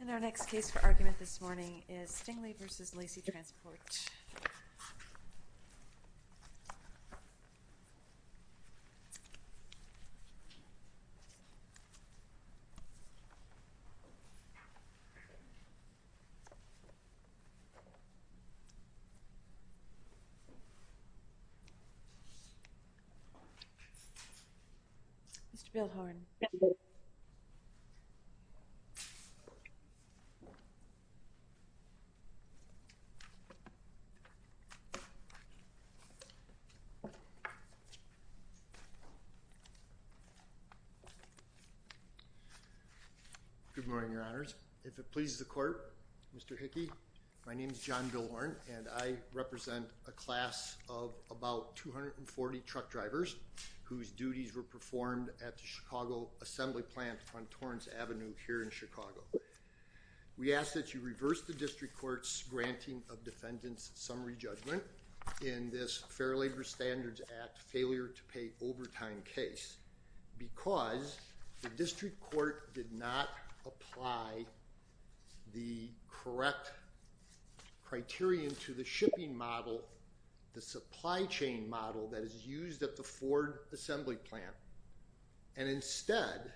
And our next case for argument this morning is Stingley v. Laci Transport. Good morning, Your Honors. If it pleases the Court, Mr. Hickey, my name is John Billhorn and I represent a class of about 240 truck drivers whose duties were performed at the Chicago Assembly Plant on Torrance Avenue here in Chicago. We ask that you reverse the District Court's Granting of Defendant's Summary Judgment in this Fair Labor Standards Act Failure to Pay Overtime case because the District Court did not apply the correct criterion to the shipping model, the supply chain model that is used at the Ford Assembly Plant and instead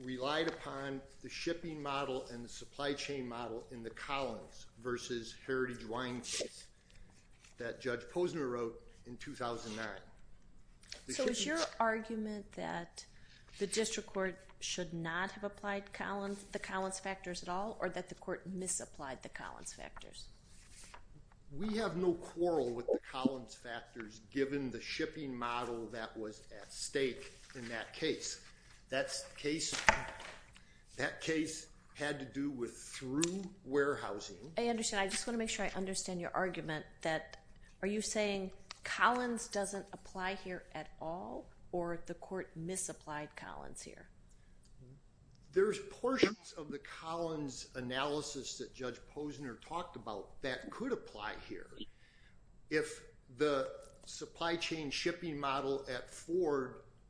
relied upon the shipping model and the supply chain model in the Collins v. Heritage Wine case that Judge Posner wrote in 2009. So is your argument that the District Court should not have applied the Collins factors at all or that the Court misapplied the Collins factors? We have no quarrel with the Collins factors given the shipping model that was at stake in that case. That case had to do with through warehousing. I just want to make sure I understand your argument that are you saying Collins doesn't apply here at all or the Court misapplied Collins here? There's portions of the Collins analysis that Judge Posner's report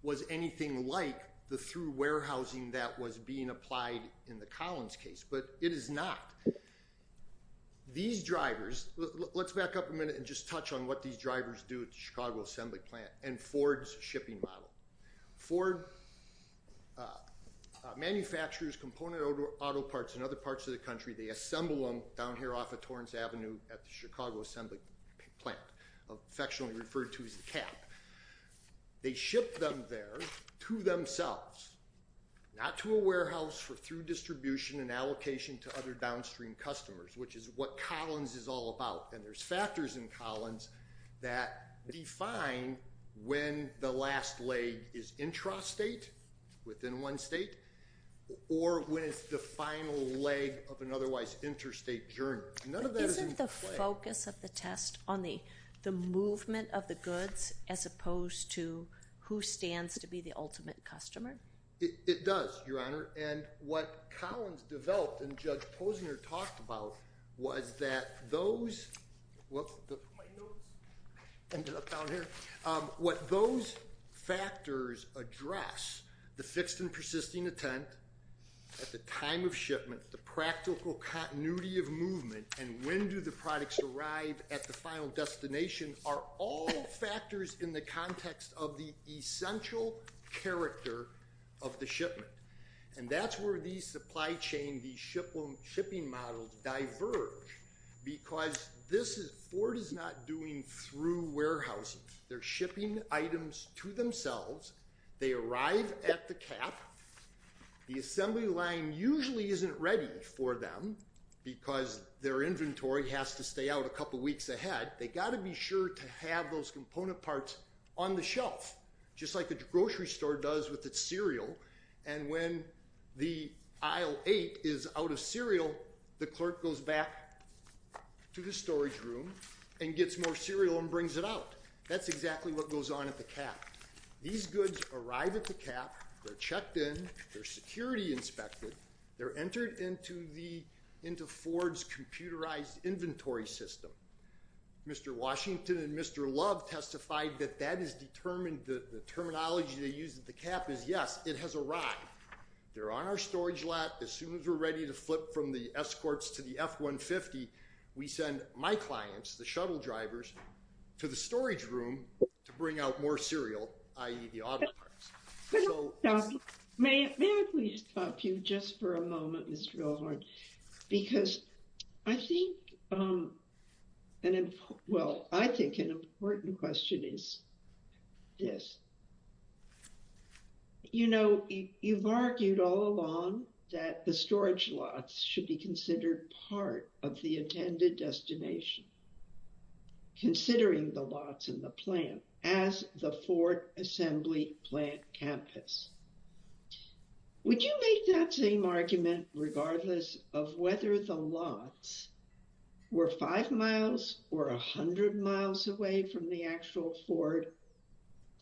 was anything like the through warehousing that was being applied in the Collins case, but it is not. These drivers, let's back up a minute and just touch on what these drivers do at the Chicago Assembly Plant and Ford's shipping model. Ford manufactures component auto parts in other parts of the country. They assemble them down here off of Torrance Avenue at the Chicago Assembly Plant, affectionately referred to as the CAP. They ship them there to themselves, not to a warehouse for through distribution and allocation to other downstream customers, which is what Collins is all about. And there's factors in Collins that define when the last leg is intrastate, within one state, or when it's the final leg of an otherwise interstate journey. Isn't the focus of the test on the movement of the goods as opposed to who stands to be the ultimate customer? It does, Your Honor. And what Collins developed and Judge Posner talked about was that those, what those factors address, the fixed and persisting intent at the time of shipment, the practical continuity of movement, and when do the products arrive at the final destination, are all factors in the context of the essential character of the shipment. And that's where these supply chain, these shipping models diverge, because this is, Ford is not doing through warehousing. They're shipping items to themselves. They arrive at the CAP. The assembly line usually isn't ready for them because their inventory has to stay out a couple weeks ahead. They got to be sure to have those component parts on the shelf, just like the grocery store does with its cereal. And when the aisle eight is out of cereal, the clerk goes back to the storage room and gets more cereal and brings it out. That's exactly what goes on at the CAP. These goods arrive at the CAP, they're checked in, they're security inspected, they're entered into the, into Ford's computerized inventory system. Mr. Washington and Mr. Love testified that that is determined, the terminology they use at the CAP is, yes, it has arrived. They're on our storage lot. As soon as we're ready to flip from the escorts to the F-150, we send my clients, the shuttle drivers, to the storage room to bring out more cereal, i.e. the auto parts. So, may I please stop you just for a moment, Mr. Wilhorn? Because I think, well, I think an important question is this. You know, you've argued all along that the storage lots should be considered part of the attended destination, considering the lots in the plant as the Ford Assembly Plant campus. Would you make that same argument regardless of whether the lots were five miles or a hundred miles away from the actual Ford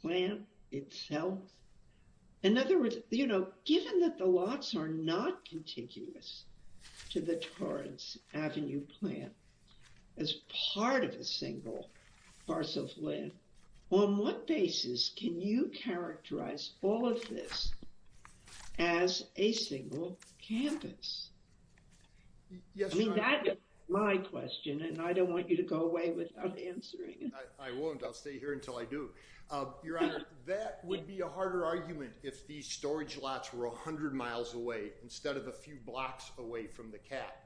Plant itself? In other words, you know, given that the lots are not contiguous to the Torrance Avenue Plant as part of a single parcel of land, on what basis can you characterize all of this as a single campus? I mean, that is my question and I don't want you to go away without answering it. I won't. I'll stay here until I do. Your Honor, that would be a harder argument if these storage lots were a hundred miles away instead of a few blocks away from the CAT.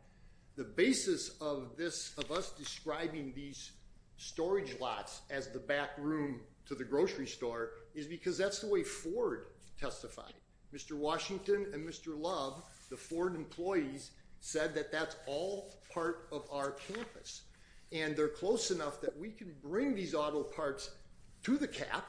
The basis of this, of us describing these storage lots as the back room to the grocery store, is because that's the way Ford testified. Mr. Washington and Mr. Love, the Ford employees, said that that's all part of our campus and they're close enough that we can bring these auto parts to the CAT,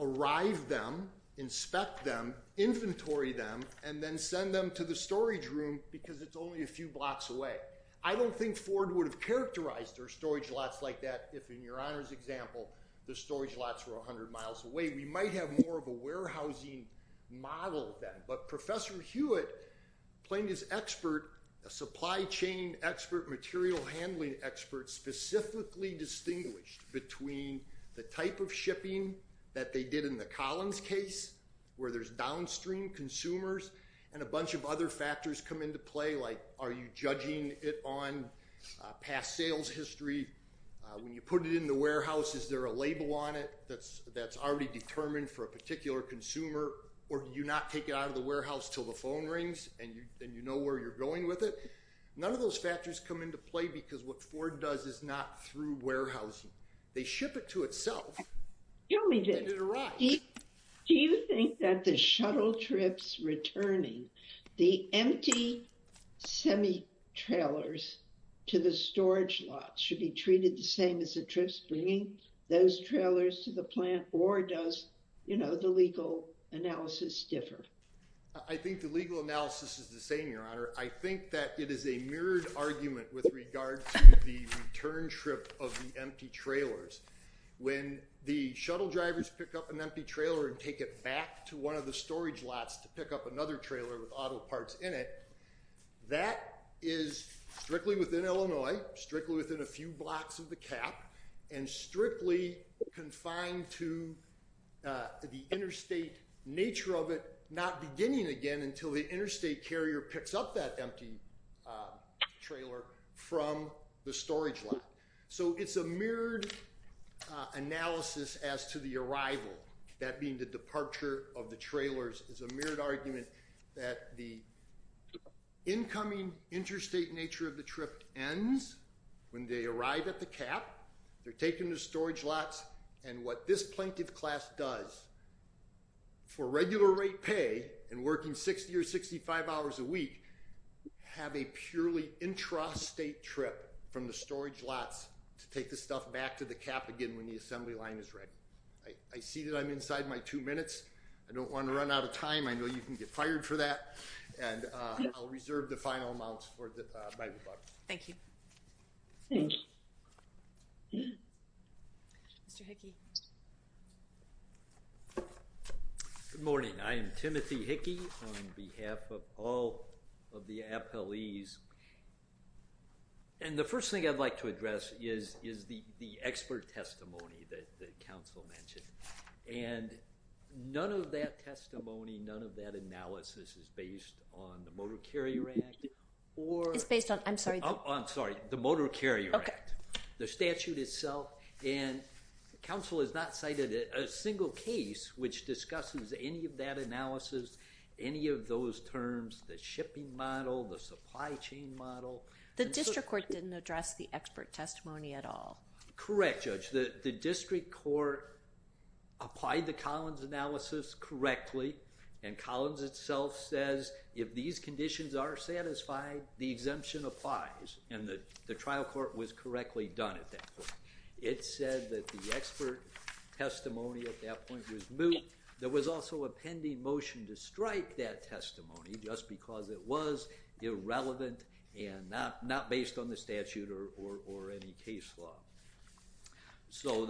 arrive them, inspect them, inventory them, and then send them to the storage room because it's only a few blocks away. I don't think Ford would have characterized their storage lots like that if, in your Honor's example, the storage lots were a hundred miles away. We might have more of a warehousing model then, but Professor Hewitt, playing his expert, a supply chain expert, material handling expert, specifically distinguished between the type of shipping that they did in the Collins case, where there's downstream consumers, and a bunch of other factors come into play, like are you judging it on past sales history? When you put it in the warehouse, is there a label on it that's already determined for a particular consumer, or do you not take it out of the warehouse till the phone rings and you know where you're going with it? None of those factors come into play because what Ford does is not through warehousing. They ship it to itself. Do you think that the shuttle trips returning, the empty semi-trailers to the storage lots, should be treated the same as the trips bringing those trailers to the plant, or does the legal analysis differ? I think the legal analysis is the same, your Honor. I think that it is a mirrored argument with regard to the return trip of the empty trailers. When the shuttle drivers pick up an empty trailer and take it back to one of the storage lots to pick up another trailer with auto parts in it, that is strictly within Illinois, strictly within a few blocks of the cap, and strictly confined to the interstate nature of it, not beginning again until the interstate carrier picks up that empty trailer from the storage lot. So it's a mirrored analysis as to the arrival, that being the departure of the trailers, is a mirrored argument that the incoming interstate nature of the trip ends when they arrive at the cap, they're taken to storage lots, and what this plaintiff class does for regular rate pay and working 60 or 65 hours a week have a purely intrastate trip from the storage lots to take the stuff back to the cap again when the assembly line is ready. I see that I'm inside my two minutes, I don't want to run out of time, I know you can get fired for that, and I'll reserve the final amounts for my rebuttal. Thank you. Good morning, I am Timothy Hickey on behalf of all of the appellees, and the first thing I'd like to address is the expert testimony that the council mentioned, and none of that testimony, none of that analysis is based on the Motor Carrier Act, or it's based on, I'm sorry, I'm sorry, the Motor Carrier Act, the statute itself, and the council has not cited a single case which discusses any of that analysis, any of those terms, the shipping model, the supply chain model. The district court didn't address the expert testimony at all. Correct, Judge, the district court applied the Collins analysis correctly, and Collins itself says if these conditions are satisfied, the exemption applies, and the trial court was correctly done at that point. It said that the expert testimony at that point was moot. There was also a pending motion to strike that testimony just because it was irrelevant and not based on the statute or any case law. So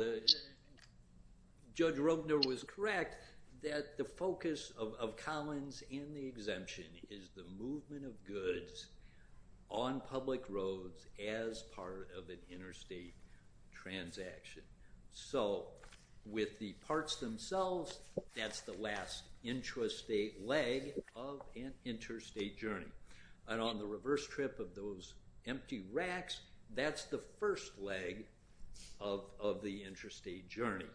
Judge Robner was correct that the focus of Collins and the exemption is the movement of goods on public roads as part of an that's the last intrastate leg of an interstate journey, and on the reverse trip of those empty racks, that's the first leg of the interstate journey.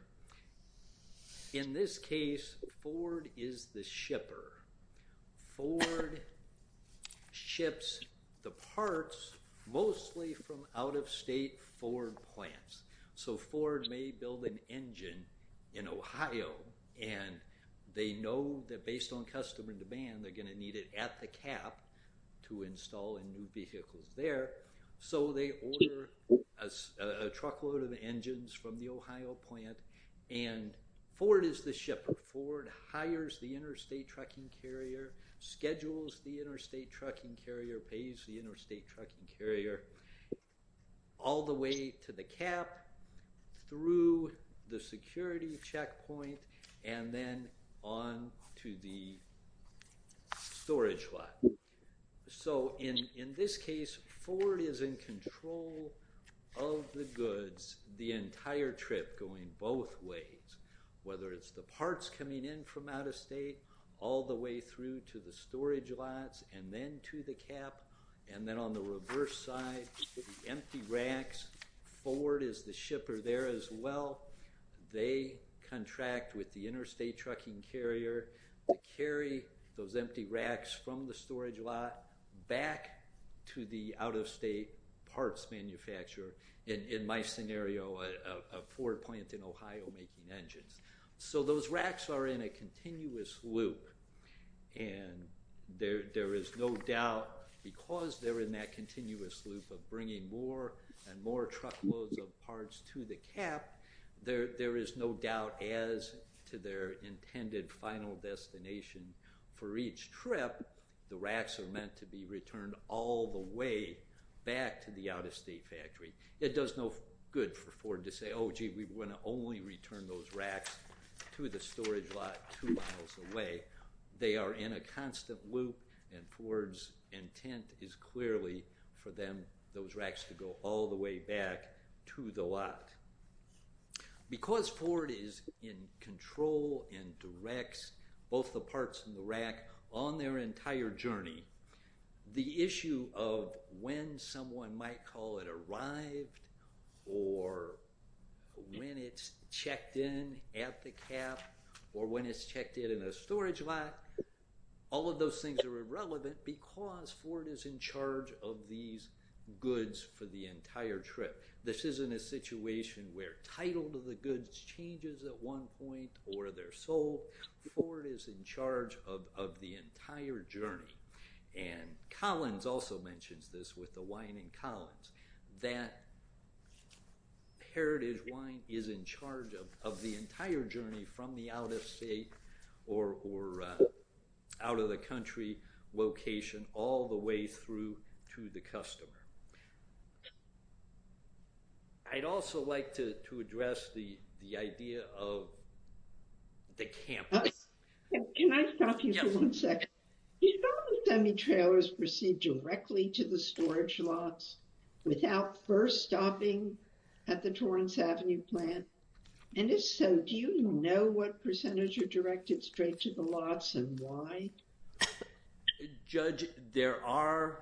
In this case, Ford is the shipper. Ford ships the parts mostly from out-of-state Ford plants. So Ford may build an engine in Ohio, and they know that based on customer demand, they're going to need it at the cap to install and move vehicles there. So they order a truckload of engines from the Ohio plant, and Ford is the shipper. Ford hires the interstate trucking carrier, schedules the interstate carrier, all the way to the cap, through the security checkpoint, and then on to the storage lot. So in this case, Ford is in control of the goods the entire trip going both ways, whether it's the parts coming in from out-of-state, all the way through to the storage lots, and then to the cap, and then on the reverse side, the empty racks. Ford is the shipper there as well. They contract with the interstate trucking carrier to carry those empty racks from the storage lot back to the out-of-state parts manufacturer. In my scenario, a Ford plant in Ohio making engines. So those racks are in a continuous loop, and there is no doubt, because they're in that continuous loop of bringing more and more truckloads of parts to the cap, there is no doubt as to their intended final destination for each trip, the racks are meant to be returned all the way back to the out-of-state factory. It does no good for Ford to say, oh gee, we want to only return those racks to the storage lot two miles away. They are in a constant loop, and Ford's intent is clearly for those racks to go all the way back to the lot. Because Ford is in control and directs both the parts in the rack on their entire journey, the issue of when someone might call it arrived, or when it's checked in at the cap, or when it's checked in a storage lot, all of those things are irrelevant because Ford is in charge of these goods for the entire trip. This isn't a situation where title of the goods changes at one point, or they're sold. Ford is in charge of the entire journey. Collins also mentions this with the wine in Collins, that Heritage Wine is in charge of the entire journey from the out-of-state or out-of-the-country location all the way through to the customer. I'd also like to address the idea of the campus. Can I stop you for one second? Do you know if the semi-trailer is received directly to the storage lots without first stopping at the Torrance Avenue plant, and if so, do you know what percentage are directed straight to the lots and why? Judge, there are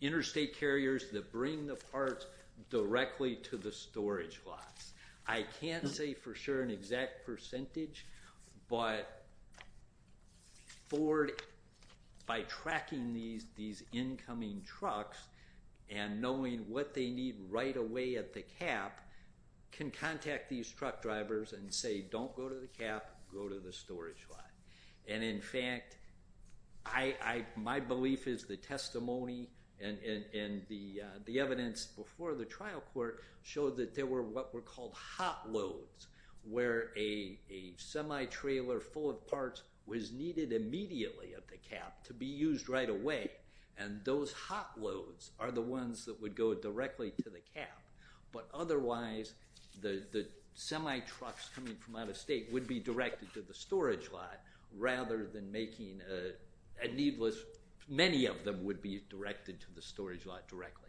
interstate carriers that bring the parts directly to the storage lots. I can't say for sure an exact percentage, but Ford, by tracking these incoming trucks and knowing what they need right away at the cap, can contact these truck drivers and say, don't go to the cap, go to the storage lot. In fact, my belief is the testimony and the evidence before the trial court showed that there were what were called hot loads, where a semi-trailer full of parts was needed immediately at the cap to be used right away, and those hot loads are the ones that would go directly to the cap, but otherwise the semi-trucks coming from out-of-state would be directed to the storage lot rather than making a needless, many of them would be directed to the storage lot directly.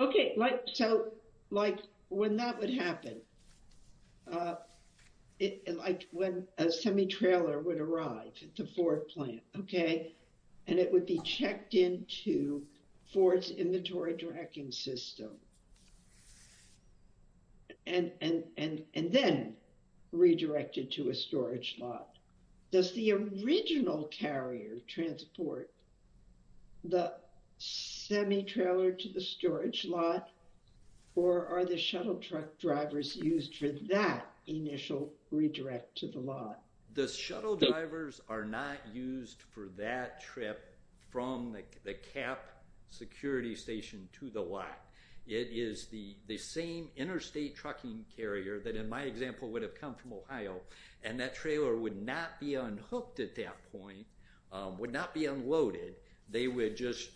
Okay, so like when that would happen, like when a semi-trailer would arrive at the Ford plant, okay, and it would be checked into Ford's inventory tracking system, and then redirected to a storage lot, does the original carrier transport the semi-trailer to the storage lot, or are the shuttle truck drivers used for that initial redirect to the lot? The shuttle drivers are not used for that trip from the cap security station to the lot. It is the same interstate trucking carrier that in my example would have come from and that trailer would not be unhooked at that point, would not be unloaded. They would just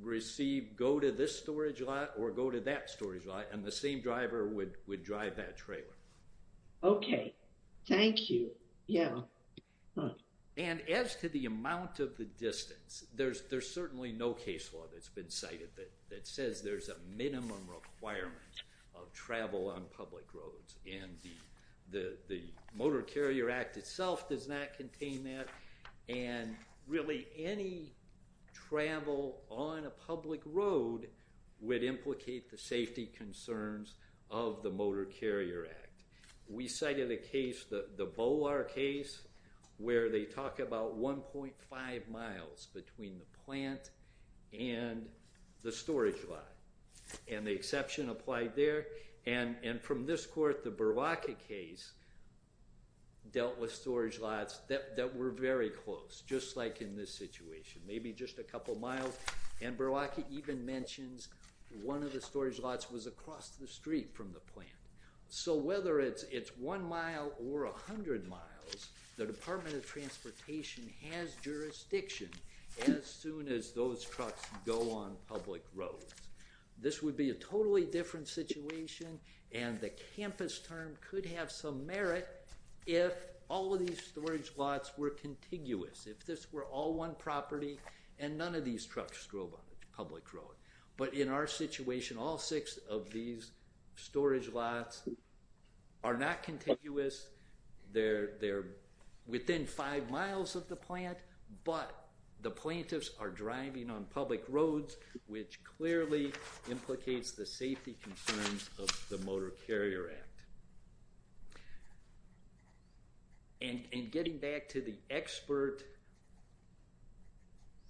receive, go to this storage lot or go to that storage lot, and the same driver would drive that trailer. Okay, thank you, yeah. And as to the amount of the distance, there's certainly no case law that's been cited that says there's a minimum requirement of travel on public roads, and the Motor Carrier Act itself does not contain that, and really any travel on a public road would implicate the safety concerns of the Motor Carrier Act. We cited a case, the Bolar case, where they talk about 1.5 miles between the plant and the storage lot, and the exception applied there, and from this court, the Berlake case dealt with storage lots that were very close, just like in this situation, maybe just a couple miles, and Berlake even mentions one of the storage lots was across the street from the plant. So whether it's one mile or a hundred miles, the Department of Transportation has jurisdiction as soon as those trucks go on public roads. This would be a totally different situation, and the campus term could have some merit if all of these storage lots were contiguous, if this were all one property and none of these trucks drove on public roads. But in our situation, all six of these storage lots are not contiguous, they're within five miles of the plant, but the plaintiffs are driving on public roads, which clearly implicates the safety concerns of the Motor Carrier Act. And getting back to the expert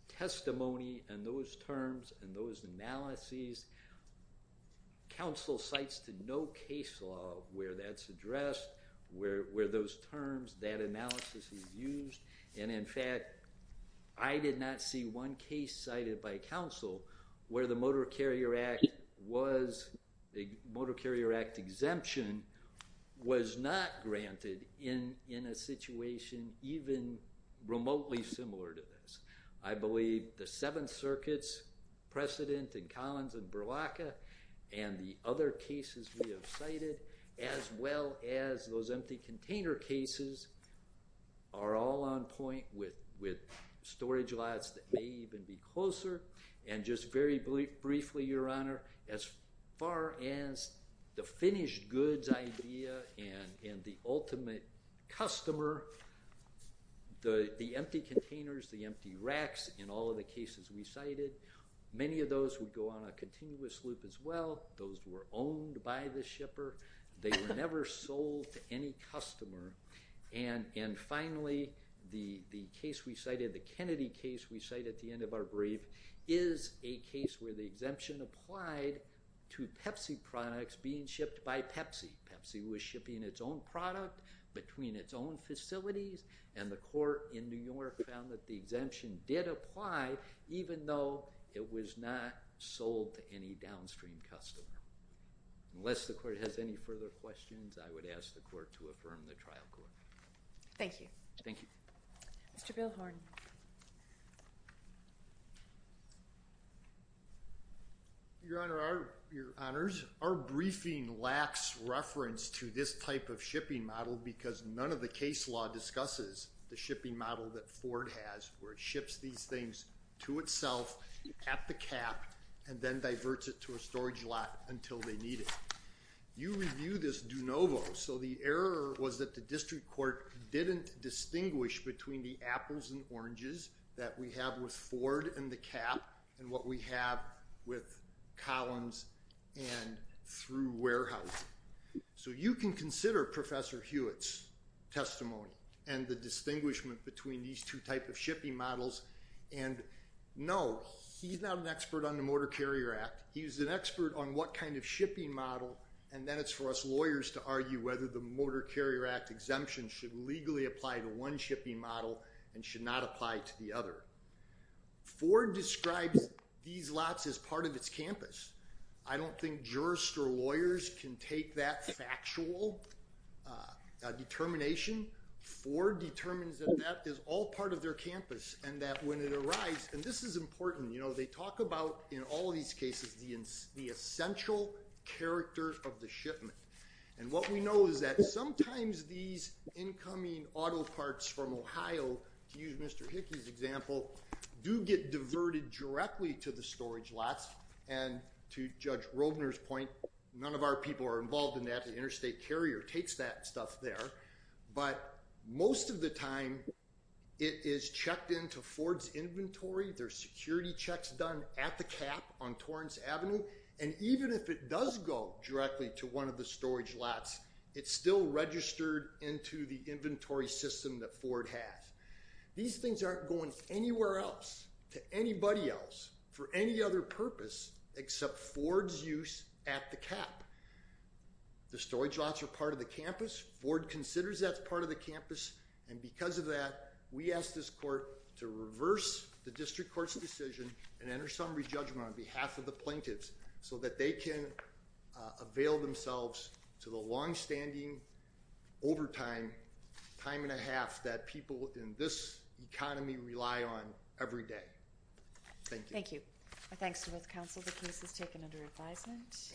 testimony and those terms and those analyses, counsel cites to no case law where that's addressed, where those terms, that analysis is used, and in fact, I did not see one case cited by counsel where the Motor Carrier Act was, the Motor Carrier Act exemption was not granted in a situation even remotely similar to this. I believe the Seventh Circuit's precedent in Collins and Berlake and the other cases we have container cases are all on point with storage lots that may even be closer. And just very briefly, Your Honor, as far as the finished goods idea and the ultimate customer, the empty containers, the empty racks in all of the cases we cited, many of those would go on a continuous loop as well, those were owned by the shipper, they were never sold to any customer, and finally, the case we cited, the Kennedy case we cite at the end of our brief is a case where the exemption applied to Pepsi products being shipped by Pepsi. Pepsi was shipping its own product between its own facilities, and the court in New York found that the exemption did apply even though it was not sold to any downstream customer. Unless the court has any further questions, I would ask the court to affirm the trial court. Thank you. Thank you. Mr. Bilhorn. Your Honor, Your Honors, our briefing lacks reference to this type of shipping model because none of the case law discusses the shipping model that Ford has where it ships these things to itself at the cap and then diverts it to a storage lot until they need it. You review this de novo, so the error was that the district court didn't distinguish between the apples and oranges that we have with Ford and the cap and what we have with Collins and through warehouse. So you can consider Professor Hewitt's testimony and the distinguishment between these two types of shipping models, and no, he's not an expert on the Motor Carrier Act. He's an expert on what kind of shipping model, and then it's for us lawyers to argue whether the Motor Carrier Act exemption should legally apply to one shipping model and should not apply to the other. Ford describes these lots as part of its campus. I don't think jurist or lawyers can take that factual determination. Ford determines that that is all part of their campus and that when it arrives, and this is important, you know, they talk about in all these cases the essential character of the shipment, and what we know is that sometimes these incoming auto parts from Ohio, to use Mr. Hickey's example, do get diverted directly to the storage lots, and to Judge takes that stuff there, but most of the time it is checked into Ford's inventory, there's security checks done at the cap on Torrance Avenue, and even if it does go directly to one of the storage lots, it's still registered into the inventory system that Ford has. These things aren't going anywhere else to anybody else for any other purpose except Ford's use at the cap. The storage lots are part of the campus, Ford considers that part of the campus, and because of that we ask this court to reverse the district court's decision and enter summary judgment on behalf of the plaintiffs so that they can avail themselves to the long-standing overtime, time and a half, that people in this economy rely on every day. Thank you. My thanks to both counsel. The case is taken under advisement.